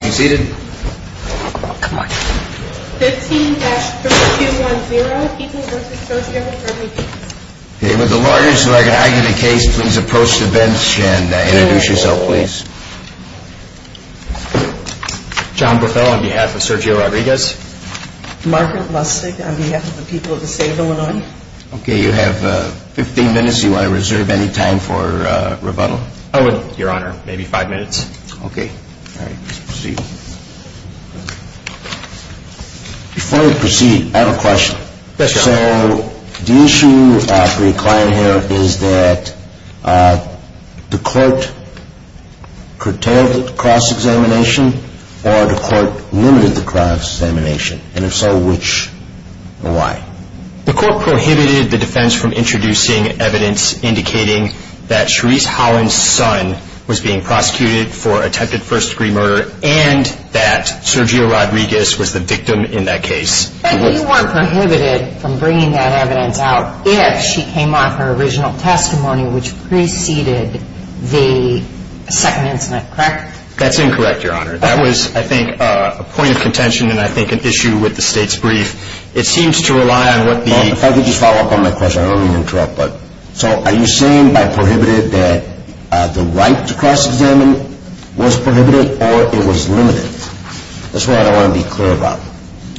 15 minutes, do you want to reserve any time for rebuttal? I will, your honor. Maybe five minutes. Before we proceed, I have a question. So the issue for your client here is that the court curtailed the cross-examination or the court limited the cross-examination? And if so, which and why? The court prohibited the defense from introducing evidence indicating that Sharice Holland's son was being prosecuted for attempted first-degree murder and that Sergio Rodriguez was the victim in that case. But you weren't prohibited from bringing that evidence out if she came off her original testimony which preceded the second incident, correct? That's incorrect, your honor. That was, I think, a point of contention and I think an issue with the state's brief. It seems to rely on what the... Well, if I could just follow up on my question. I don't mean to interrupt, but so are you saying by prohibited that the right to cross-examine was prohibited or it was limited? That's what I want to be clear about.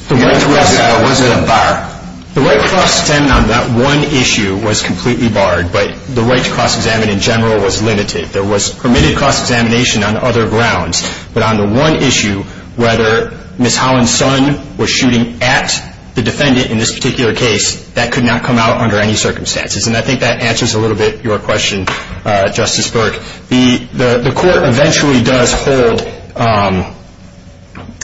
The right to cross-examine wasn't a bar. The right to cross-examine on that one issue was completely barred, but the right to cross-examine in general was limited. There was permitted cross-examination on other grounds, but on the one issue, whether Ms. Holland's son was shooting at the defendant in this particular case, that could not come out under any circumstances. And I think that answers a little bit your question, Justice Burke. The court eventually does hold,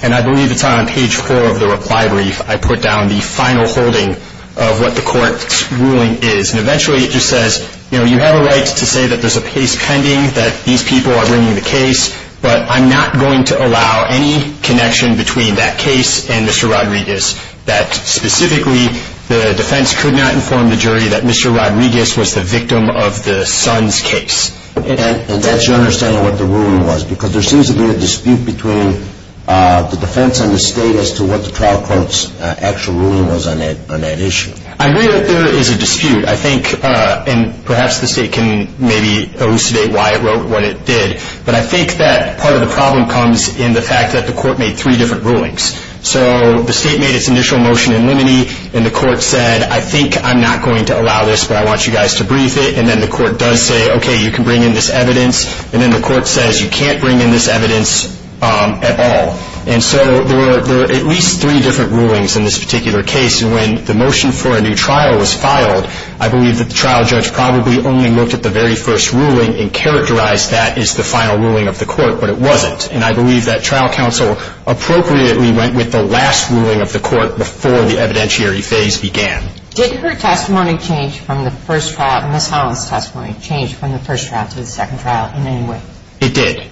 and I believe it's on page four of the reply brief, I put down the final holding of what the court's ruling is. And eventually it just says, you know, you have a right to say that there's a case pending, that these people are bringing the case, but I'm not going to allow any connection between that case and Mr. Rodriguez, that specifically the defense could not inform the jury that Mr. Rodriguez was the victim of the son's case. And that's your understanding of what the ruling was? Because there seems to be a dispute between the defense and the state as to what the trial court's actual ruling was on that issue. I agree that there is a dispute. I think, and perhaps the state can maybe elucidate why it wrote what it did, but I think that part of the problem comes in the fact that the court made three different rulings. So the state made its initial motion in limine, and the court said, I think I'm not going to allow this, but I want you guys to brief it. And then the court does say, okay, you can bring in this evidence. And then the court says, you can't bring in this evidence at all. And so there are at least three different rulings in this particular case, and when the motion for a new trial was filed, I believe that the trial judge probably only looked at the very first ruling and characterized that as the final ruling of the court, but it wasn't. And I believe that trial counsel appropriately went with the last ruling of the court before the evidentiary phase began. Did her testimony change from the first trial, Ms. Holland's testimony, change from the first trial to the second trial in any way? It did.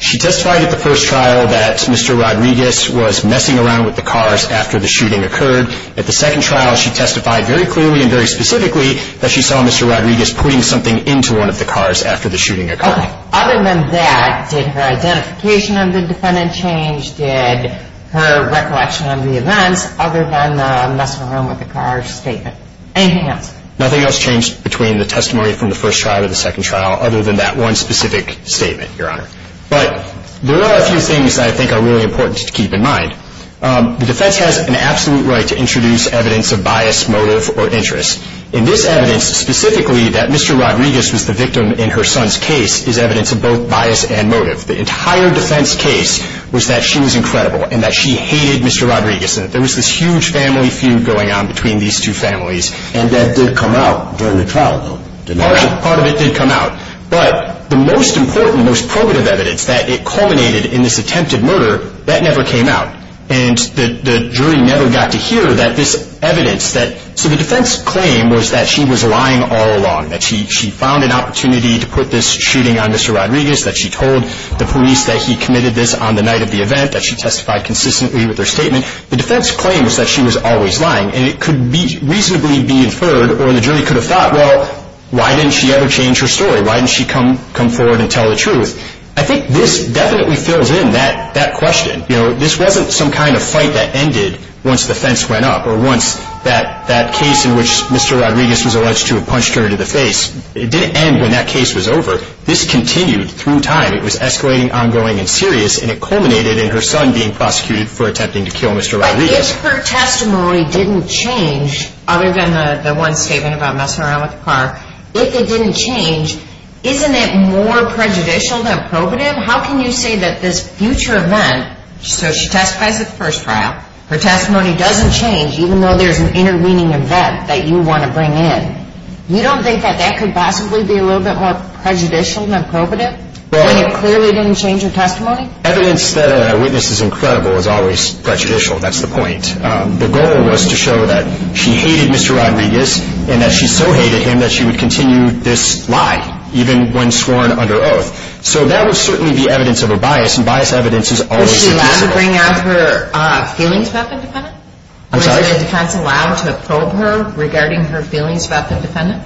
She testified at the first trial that Mr. Rodriguez was messing around with the cars after the shooting occurred. At the second trial, she testified very clearly and very specifically that she saw Mr. Rodriguez putting something into one of the cars after the shooting occurred. Other than that, did her identification of the defendant change? Did her recollection of the events, other than the messing around with the cars statement? Anything else? Nothing else changed between the testimony from the first trial to the second trial, other than that one specific statement, Your Honor. But there are a few things that I think are really important to keep in mind. The defense has an absolute right to introduce evidence of bias, motive, or interest. In this evidence, specifically, that Mr. Rodriguez was the victim in her son's case is evidence of both bias and motive. The entire defense case was that she was incredible and that she hated Mr. Rodriguez and that there was this huge family feud going on between these two families and that did come out during the trial. Part of it did come out, but the most important, most probative evidence that it culminated in this attempted murder, that never came out. And the jury never got to hear this evidence. So the defense claim was that she was lying all along, that she found an opportunity to put this shooting on Mr. Rodriguez, that she told the police that he committed this on the night of the event, that she testified consistently with her statement. The defense claim was that she was always lying and it could reasonably be inferred, or the jury could have thought, well, why didn't she ever change her story? Why didn't she come forward and tell the truth? I think this definitely fills in that question. This wasn't some kind of fight that ended once the fence went up or once that case in which Mr. Rodriguez was alleged to have punched her in the face. It didn't end when that case was over. This continued through time. It was escalating, ongoing, and serious, and it culminated in her son being prosecuted for attempting to kill Mr. Rodriguez. But if her testimony didn't change, other than the one statement about messing around with the car, if it didn't change, isn't it more prejudicial than probative? How can you say that this future event, so she testifies at the first trial, her testimony doesn't change, even though there's an intervening event that you want to bring in. You don't think that that could possibly be a little bit more prejudicial than probative? When it clearly didn't change her testimony? Evidence that a witness is incredible is always prejudicial. That's the point. The goal was to show that she hated Mr. Rodriguez, and that she so hated him that she would continue this lie, even when sworn under oath. So that would certainly be evidence of a bias, and bias evidence is always predictable. Was she allowed to bring out her feelings about the defendant? I'm sorry? Was the defense allowed to probe her regarding her feelings about the defendant?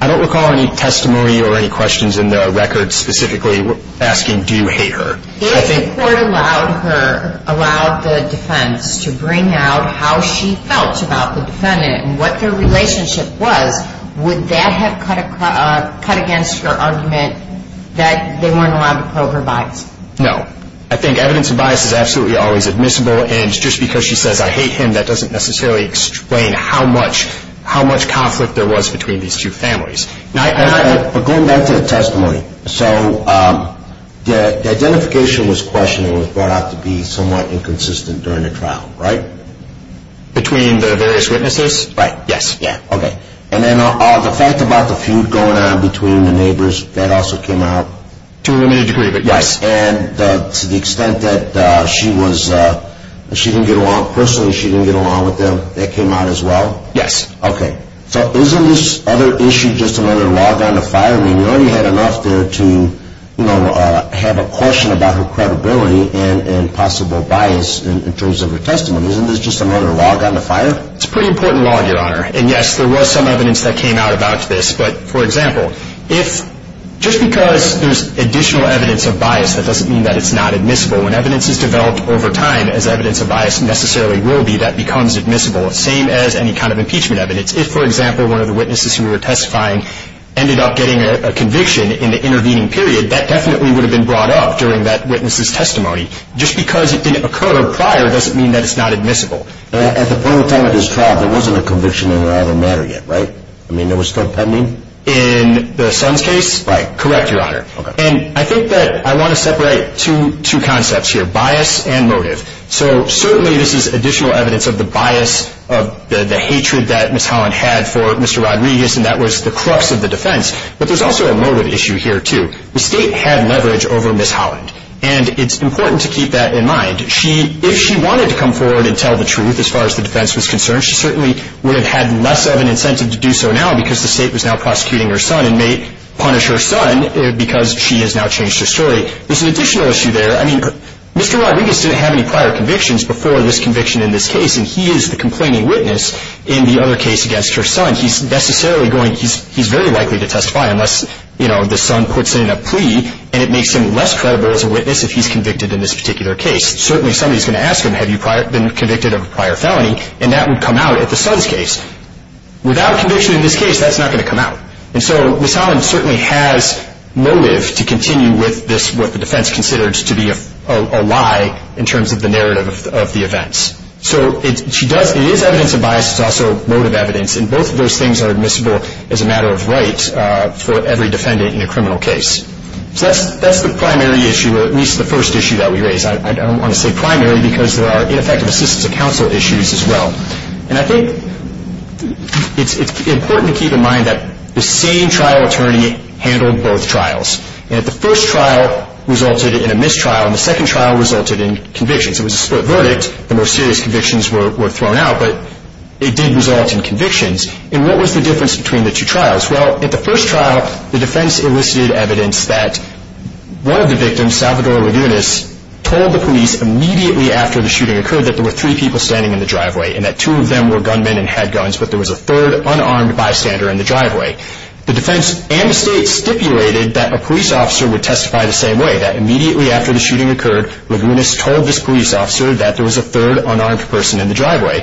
I don't recall any testimony or any questions in the record specifically asking, do you hate her? If the court allowed the defense to bring out how she felt about the defendant and what their relationship was, would that have cut against her argument that they weren't allowed to probe her bias? No. I think evidence of bias is absolutely always admissible, and just because she says, I hate him, that doesn't necessarily explain how much conflict there was between these two families. But going back to the testimony, so the identification was questioned and was brought out to be somewhat inconsistent during the trial, right? Between the various witnesses? Right, yes. Yeah, okay. And then the fact about the feud going on between the neighbors, that also came out? To a limited degree, but yes. And to the extent that she didn't get along personally, she didn't get along with them, that came out as well? Yes. Okay. So isn't this other issue just another log on the fire? I mean, we already had enough there to have a question about her credibility and possible bias in terms of her testimony. Isn't this just another log on the fire? It's a pretty important log, Your Honor. And yes, there was some evidence that came out about this, but, for example, just because there's additional evidence of bias, that doesn't mean that it's not admissible. When evidence is developed over time, as evidence of bias necessarily will be, that becomes admissible, same as any kind of impeachment evidence. If, for example, one of the witnesses who we were testifying ended up getting a conviction in the intervening period, that definitely would have been brought up during that witness's testimony. Just because it didn't occur prior doesn't mean that it's not admissible. At the point of time of this trial, there wasn't a conviction on the matter yet, right? I mean, it was still pending? In the Sons case? Right. Correct, Your Honor. And I think that I want to separate two concepts here, bias and motive. So, certainly this is additional evidence of the bias, of the hatred that Ms. Holland had for Mr. Rodriguez, and that was the crux of the defense. But there's also a motive issue here, too. The State had leverage over Ms. Holland, and it's important to keep that in mind. If she wanted to come forward and tell the truth, as far as the defense was concerned, she certainly would have had less of an incentive to do so now because the State was now prosecuting her son and may punish her son because she has now changed her story. There's an additional issue there. I mean, Mr. Rodriguez didn't have any prior convictions before this conviction in this case, and he is the complaining witness in the other case against her son. He's very likely to testify unless the son puts in a plea, and it makes him less credible as a witness if he's convicted in this particular case. Certainly somebody's going to ask him, have you been convicted of a prior felony? And that would come out at the son's case. Without conviction in this case, that's not going to come out. And so Ms. Holland certainly has motive to continue with what the defense considers to be a lie in terms of the narrative of the events. So it is evidence of bias. It's also motive evidence, and both of those things are admissible as a matter of right for every defendant in a criminal case. So that's the primary issue, or at least the first issue that we raise. I don't want to say primary because there are ineffective assistance of counsel issues in this case as well. And I think it's important to keep in mind that the same trial attorney handled both trials. And if the first trial resulted in a mistrial, and the second trial resulted in convictions. It was a split verdict. The most serious convictions were thrown out, but it did result in convictions. And what was the difference between the two trials? Well, at the first trial, the defense elicited evidence that one of the victims, Salvador Levinas, told the police immediately after the shooting occurred that there were three people standing in the driveway and that two of them were gunmen and had guns, but there was a third unarmed bystander in the driveway. The defense and the state stipulated that a police officer would testify the same way, that immediately after the shooting occurred, Levinas told this police officer that there was a third unarmed person in the driveway.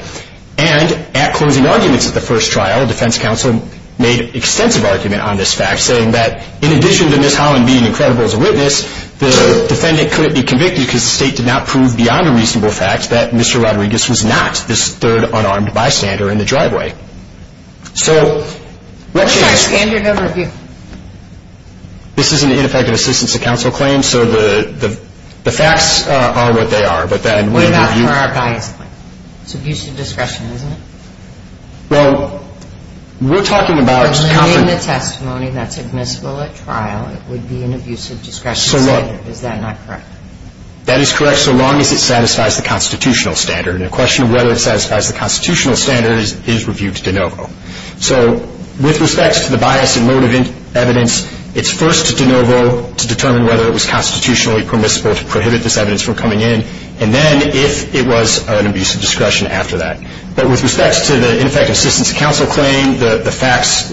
And at closing arguments at the first trial, defense counsel made extensive argument on this fact saying that in addition to Ms. Holland being incredible as a witness, the defendant couldn't be convicted because the state did not prove beyond a reasonable fact that Mr. Rodriguez was not this third unarmed bystander in the driveway. So, let's just... What's our standard of review? This is an ineffective assistance to counsel claim, so the facts are what they are, but then we review... What about for our bias claim? It's abusive discretion, isn't it? Well, we're talking about... In the testimony that's admissible at trial, it would be an abusive discretion standard. Is that not correct? That is correct, so long as it satisfies the constitutional standard. The question of whether it satisfies the constitutional standard is reviewed de novo. So, with respect to the bias and motive evidence, it's first de novo to determine whether it was constitutionally permissible to prohibit this evidence from coming in, and then if it was an abusive discretion after that. But with respect to the ineffective assistance to counsel claim, the facts...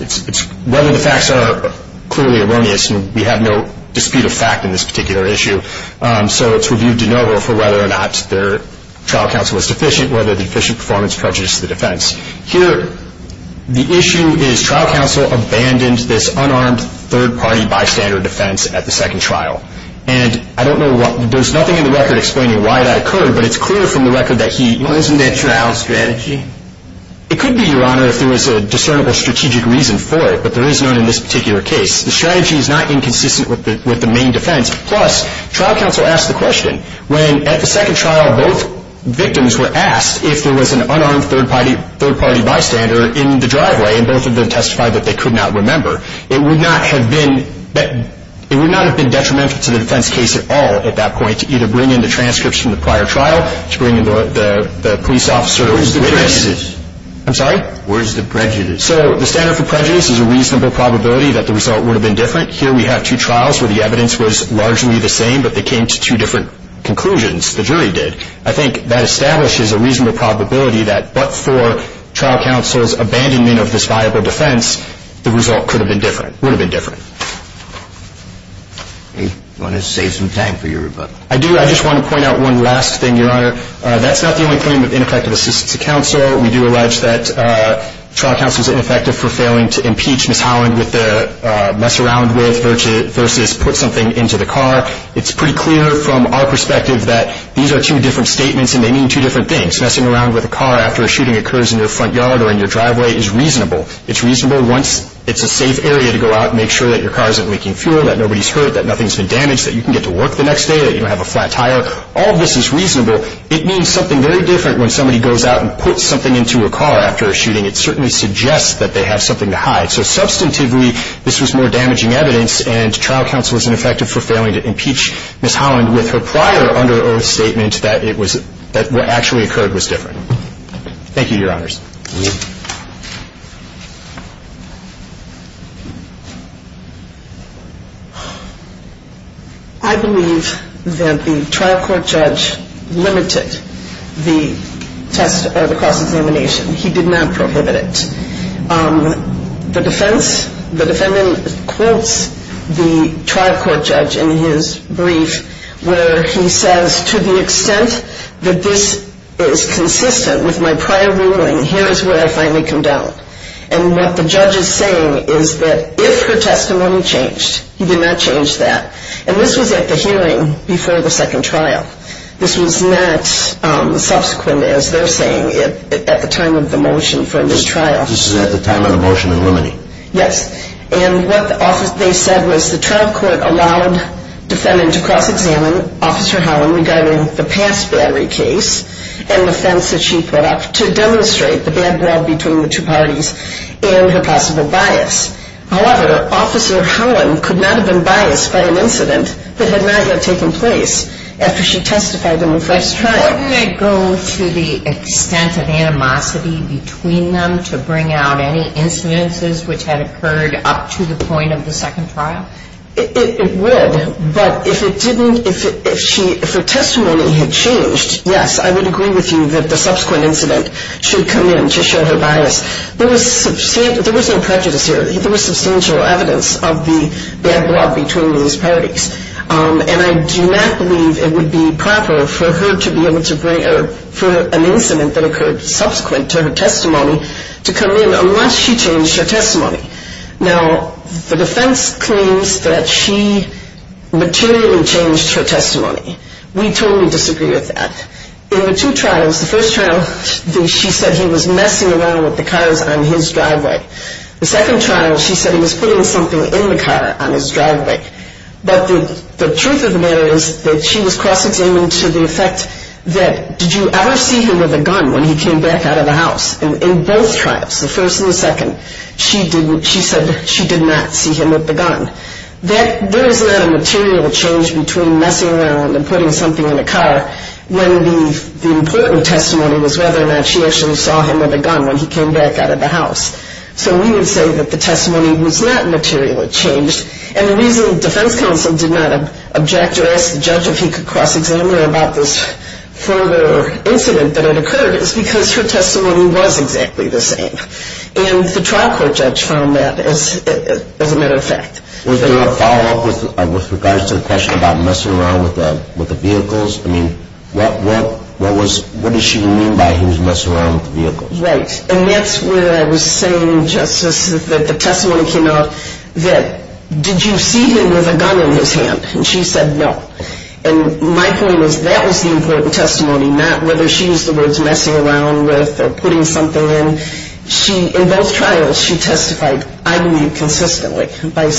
Whether the facts are clearly erroneous, and we have no dispute of fact in this particular issue, so it's reviewed de novo for whether or not their trial counsel was deficient, whether the deficient performance prejudiced the defense. Here, the issue is trial counsel abandoned this unarmed third-party bystander defense at the second trial. And I don't know what... There's nothing in the record explaining why that occurred, but it's clear from the record that he... Wasn't there a trial strategy? It could be, Your Honor, if there was a discernible strategic reason for it, but there is none in this particular case. The strategy is not inconsistent with the main defense, plus, trial counsel asked the question. When, at the second trial, both victims were asked if there was an unarmed third-party bystander in the driveway, and both of them testified that they could not remember, it would not have been... It would not have been detrimental to the defense case at all at that point, to either bring in the transcripts from the prior trial, to bring in the police officer's witness... Where's the prejudice? I'm sorry? Where's the prejudice? So, the standard for prejudice is a reasonable probability that the result would have been different. Here we have two trials where the evidence was largely the same, but they came to two different conclusions. The jury did. I think that establishes a reasonable probability that, but for trial counsel's abandonment of this viable defense, the result could have been different. Would have been different. You want to save some time for your rebuttal? I do. I just want to point out one last thing, Your Honor. That's not the only claim of ineffective assistance to counsel. We do allege that trial counsel is ineffective for failing to impeach Ms. Holland with their mess-around-with versus put something into the car. It's pretty clear from our perspective that these are two different statements and they mean two different things. Messing around with a car after a shooting occurs in your front yard or in your driveway is reasonable. It's reasonable once it's a safe area to go out and make sure that your car isn't leaking fuel, that nobody's hurt, that nothing's been damaged, that you can get to work the next day, that you don't have a flat tire. All of this is reasonable. It means something very different when somebody goes out and puts something into a car after a shooting. It certainly suggests that they have something to hide. So substantively, this was more damaging evidence and trial counsel is ineffective for failing to impeach Ms. Holland with her prior under oath statement that it was that what actually occurred was different. Thank you, Your Honors. I believe that the trial court judge limited the test or the cross-examination. He did not prohibit it. The defense, the defendant quotes the trial court judge in his brief where he says to the extent that this is consistent with my prior ruling, here is where I finally come down. And what the judge is saying is that if her testimony changed, he did not change that. And this was at the hearing before the second trial. This was not subsequent as they're saying at the time of the motion for a new trial. So, this was at the time of the motion in limine. Yes. And what the office they said was the trial court allowed the defendant to cross-examine Officer Holland regarding the past battery case and the offense that she put up to demonstrate the bad blood between the two parties and her possible bias. However, Officer Holland could not have been biased by an incident that had not yet taken place after she testified in the first trial. Why didn't I go to the extent of animosity between them to bring out any incidences which had occurred up to the point of the second trial? It would, but if it didn't, if her testimony had changed, yes, I would agree with you that the subsequent incident should come in to show her bias. There was no prejudice here. There was substantial evidence of the bad blood between these parties. And I do not believe it would be proper for her to be able to bring out any incident that occurred subsequent to her testimony to come in unless she changed her testimony. Now, the defense claims that she materially changed her testimony. We totally disagree with that. In the two trials, the first trial, she said he was messing around with the cars on his driveway. The second trial, she said he was putting something in the car on his driveway. But the truth of the matter is that she was cross-examining to the effect that did you ever see him with a gun when he came back out of the house? In both trials, the first and the second, she said she did not see him with the gun. There is not a material change between messing around and putting something in the car when the important testimony was whether or not she actually saw him with a gun when he came back out of the house. So we would say that the testimony was not materially changed. And the reason the defense counsel did not object or ask the judge if he could cross-examine her about this further incident that had nothing to do with her testimony. And that's where I was saying Justice, that the testimony came out that did you see him with a gun in his hand? And she said no. And my point was that was the important testimony, not whether she used the words or not. that was the important if he could cross-examine her about this further incident. And that's the reason that the defense counsel did not object. And I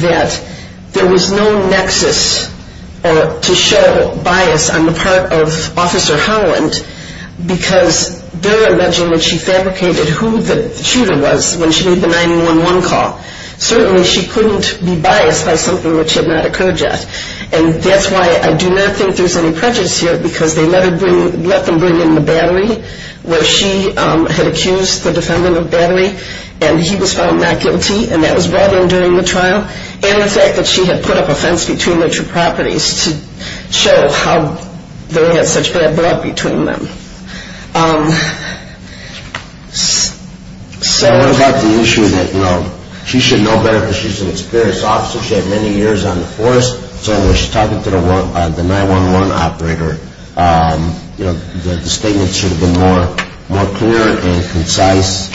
believe that there was no nexus to show bias on the part of Officer Howland because they're alleging that she fabricated who the shooter was when she made the 911 call. Certainly she couldn't be biased by something which had not occurred yet. And that's why I do not think there's any prejudice here because they let them bring in the battery where she had accused the defendant of battery and he was found not guilty and that was brought in during the trial and the fact that she had put up a fence between the two properties to show how they were and that was brought in by the 911 operator. The statement should have been more clear and concise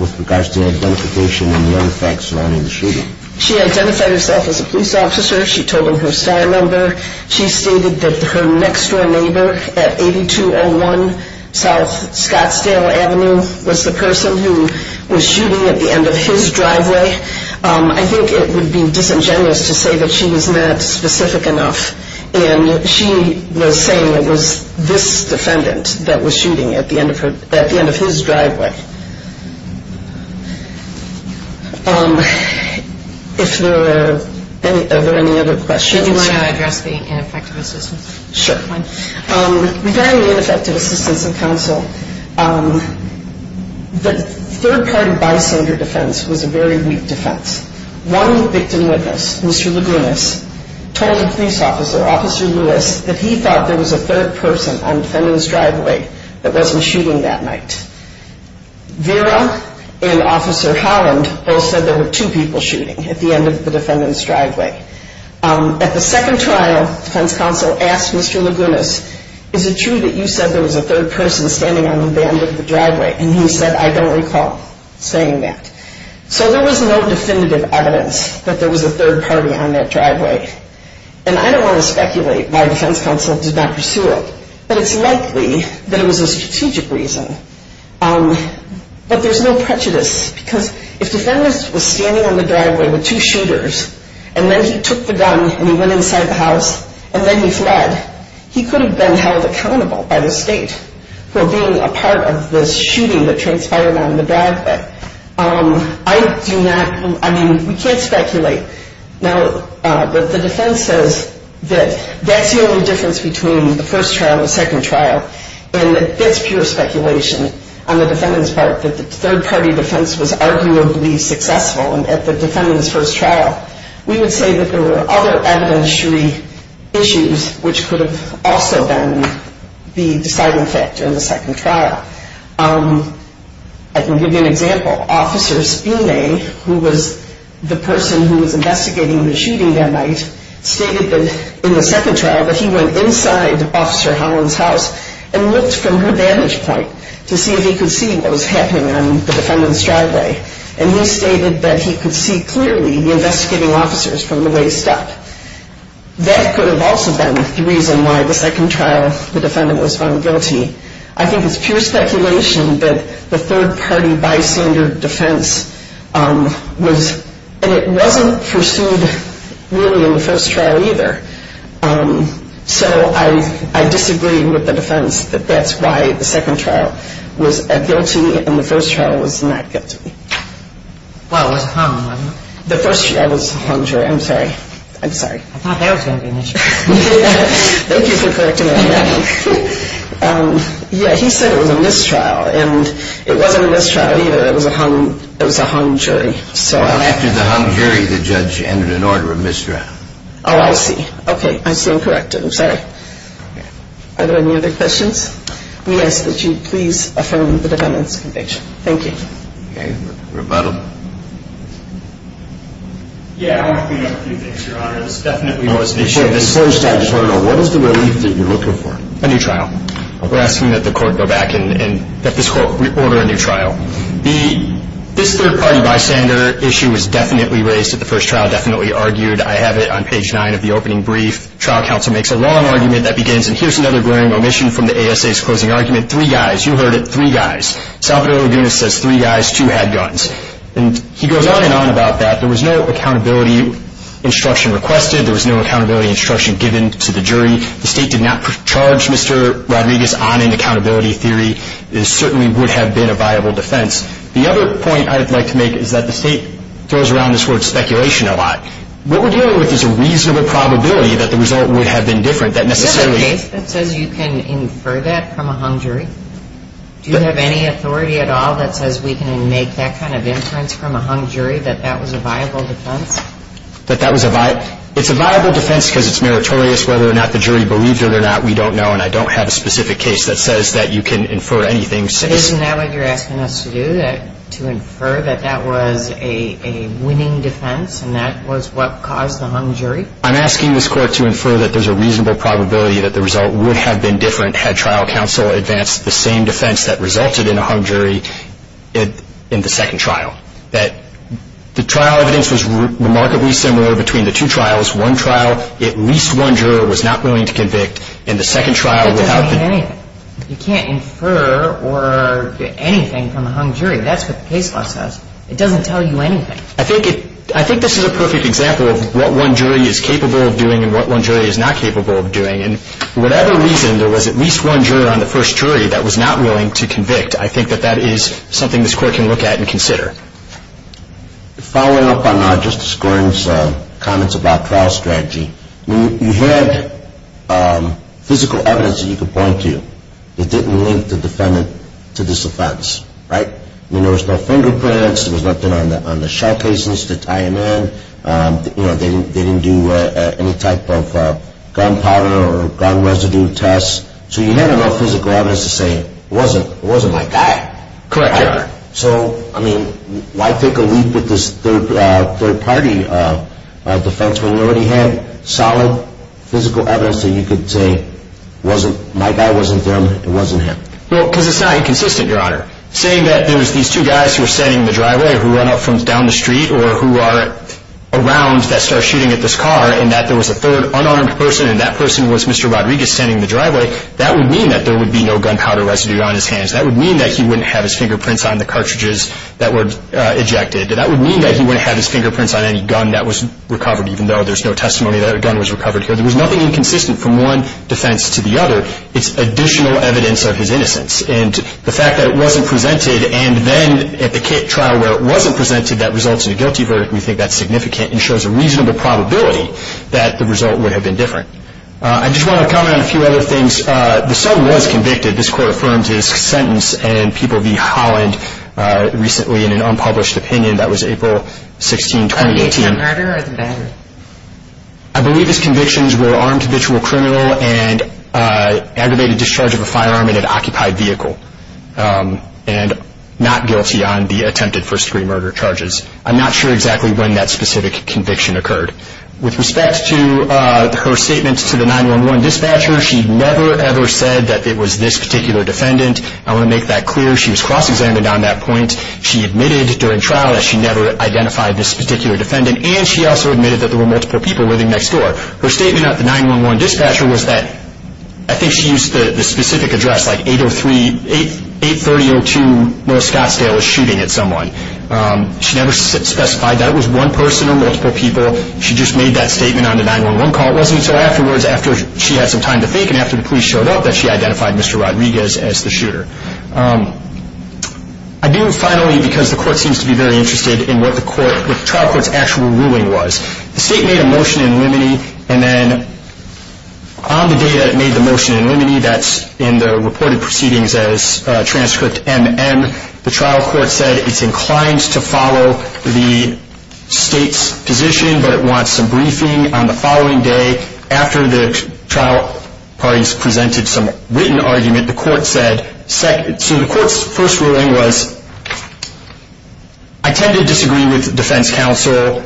with regards to the identification and the other facts surrounding the shooting. She identified herself as a police officer. She told her neighbor at 8201 South Scottsdale Avenue was the person who was shooting at the end of his driveway. I think it would be disingenuous to say that she was not specific enough and she was saying it was this defendant that was shooting at the end of his driveway. Are there any other questions? Do you want to address the ineffective assistance? Sure. Regarding the ineffective assistance of counsel, the third party bystander defense was a very weak defense. One victim witness, Mr. Lagunas, told the police officer, Officer Lewis, that he thought there was a third person on the defendant's driveway that wasn't shooting that night. Vera and Officer Holland both said there were two people shooting at the end of the defendant's driveway. At the second trial defense counsel asked Mr. Lagunas, is it true that you said there was a third person standing on the end of the driveway? And he said, I don't recall saying that. So there was no definitive evidence that there was a third party on that driveway. And I don't want to speculate why defense counsel did not pursue it, but it's likely that it was a strategic reason. But there's no prejudice because if the defendant was standing on the driveway with two shooters and then he took the gun and went inside the house and then he fled, he could have been held accountable by the state for being a third party. That's the only difference between the first trial and the second trial. And that's pure speculation on the defendant's part that the third party defense was arguably successful at the defendant's first trial. We would say that there were other evidentiary issues which could have also been the deciding factor in the second trial that he went inside Officer Holland's house and looked from her vantage point to see if he could see what was happening on the defendant's driveway and he stated that he could see clearly the investigating officers from the waist up. That could have also been the reason why the second trial the defendant was a third party by standard defense and it wasn't pursued really in the first trial either. So I disagree with the defense that that's why the second trial was a guilty and the first trial was not guilty. The first trial was a hung jury. I'm sorry. I'm sorry. I thought that was going to be an issue. Thank you for correcting me. He said it was a mistrial and it wasn't a mistrial either. It was a hung jury. After the hung jury the judge entered an order of mistrial. Oh, I see. I see and correct it. I'm sorry. Are there any other questions? We ask that you please affirm the defendant's conviction. Thank you. Okay. Rebuttal. Yeah. I want to clean up a few things, your honor. This definitely was an issue. First, I just want to know what is the relief that you're looking for? A new trial. We're asking that the court go back and that this court order a new trial. This third party bystander issue was definitely raised at the first trial, definitely argued. I have it on page nine of the opening brief. Here's another glaring omission from the closing argument. Three guys. You heard it. Two had guns. He goes on and on about that. There was no accountability instruction given to the jury. The state did not charge Mr. Hogan. I don't have a specific case that says that you can infer anything. Isn't that was a winning defense? I don't have a specific case that says that you can infer anything. I don't have a specific case that you can infer anything. I'm asking this court to infer that there's a reasonable probability that the result would have been different had trial counsel advanced the same defense that resulted in a hung jury in the second trial. That, the trial evidence was remarkably similar between the two cases. And this is a perfect example of what one jury is capable of doing and what one jury is not capable of doing. And for whatever reason there was at least one juror on the first jury that was not willing to convict. I think that that is something this court can look at and consider. slide. Following up on Justice Gordon's comments about trial strategy, you had physical evidence that you could point to that didn't link the defendant to this offense, right? I mean, there was no fingerprints, there was nothing on the shell cases to tie him in, they didn't do any type of gun powder or gun residue tests, so you had enough physical say it wasn't my guy. Correct, Your Honor. So, I mean, why take a leap at this third party defense when you already had solid physical evidence that you could say my guy wasn't them, it wasn't him? Well, because it's not inconsistent, Your Honor. Saying that there was these two guys who were standing in the driveway who run up from down the street or who are around that start shooting at this car and that there was a third unarmed person and that person was Mr. Rodriguez standing in the driveway, that would mean that there would be no gun powder residue on his hands. That would mean that he wouldn't have his fingerprints on the cartridges that were ejected. That would mean that he wouldn't have his fingerprints on any gun that was recovered even though there's no testimony that a gun was recovered here. There was nothing inconsistent from one to the would mean that there was no evidence of his innocence. The fact that it wasn't presented and then at the trial where it wasn't presented that results in a guilty verdict, we think that's significant and shows a reasonable probability that the result would be that the defendant had occupied vehicle and not guilty on the attempted first-degree murder charges. I'm not sure exactly when that specific conviction occurred. With respect to her statement to the 9-1-1 dispatcher, she never ever said that it was this particular defendant. I want to make that clear. She was cross-examined on that point. She admitted during trial that she never identified this particular defendant and she also admitted that there were multiple people living next door. Her statement at the 9-1-1 dispatcher was that I think she used the specific address like 830-02 North Scottsdale was shooting at someone. She never specified that it was one person or multiple people. She just made that statement on the 9-1-1 call. It wasn't until afterwards after she had some time to think and after the police showed up that she identified Mr. Rodriguez as the shooter. I do finally because the court seems to be very interested in what the trial court's actual ruling was. The state made a motion in limine and then on the day it made the motion in limine, that's in the reported proceedings as transcript MM, the trial court said it's inclined to follow the state's position but wants some briefing on the following day after the trial parties presented some written argument, the court said, so the court's first ruling was I tend to disagree with defense counsel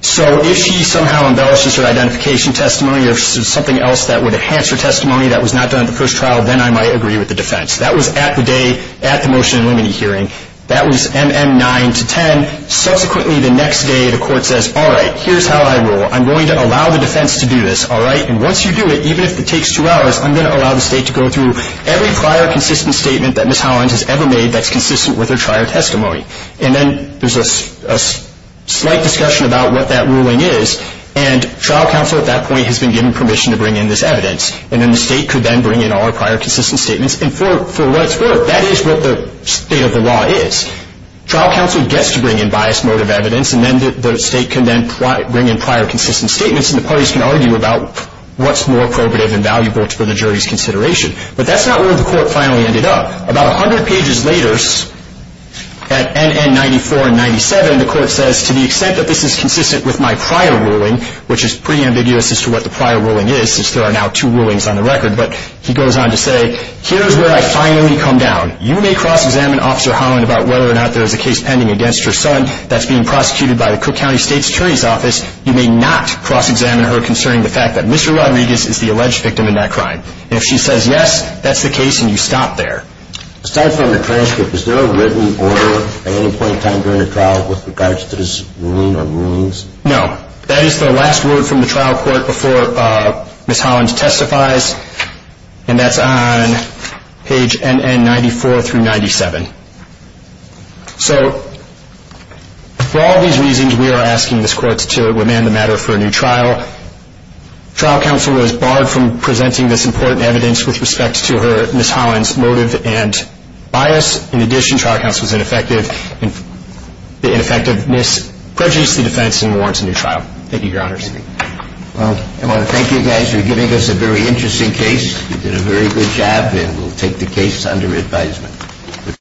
so if she somehow embellishes her identification testimony or something else that would enhance her testimony that was not done in the first trial then I might agree with the defense. That was at the day at the motion in limine hearing. That was MM9 to 10. Subsequently the next day the court says all right, here's how I rule, I'm going to allow the defense to do this and once you do it, even if it takes two hours, I'm going to allow the state to go through every prior consistent statement that Ms. Hollins has ever made that's consistent with her prior testimony. And then there's a slight discussion about what that ruling is and trial counsel at that point has been given permission to bring in this evidence and then the state could then bring in all the prior consistent statements and for what it's worth that is what the state of the law is. Trial counsel gets to bring in bias motive evidence and then the state can then bring in prior consistent statements and the parties can argue about what's more appropriate and valuable for the jury's consideration. But that's not where the court finally ended up. About 100 pages later at N.N. 94 and N.N. Ms. Hollins testified about whether or not there was a case pending against her son that's being prosecuted by the Cook County state attorney's office. You may not cross examine her concerning the fact that Mr. Rodriguez is the alleged victim in that crime. And if she says yes, that's the case and you stop there. No. That is the last word from the trial court before Ms. Hollins testifies and that's on page N.N. 94 through 97. So for all these reasons we are asking this court to remand the matter for a new trial. The trial counsel was barred from presenting this important evidence with respect to her motive and bias. In addition, the trial counsel was ineffective in prejudice the defense and warrants a new trial. Thank you. I want to thank you guys for giving us a very good time. We will take the case under advisement.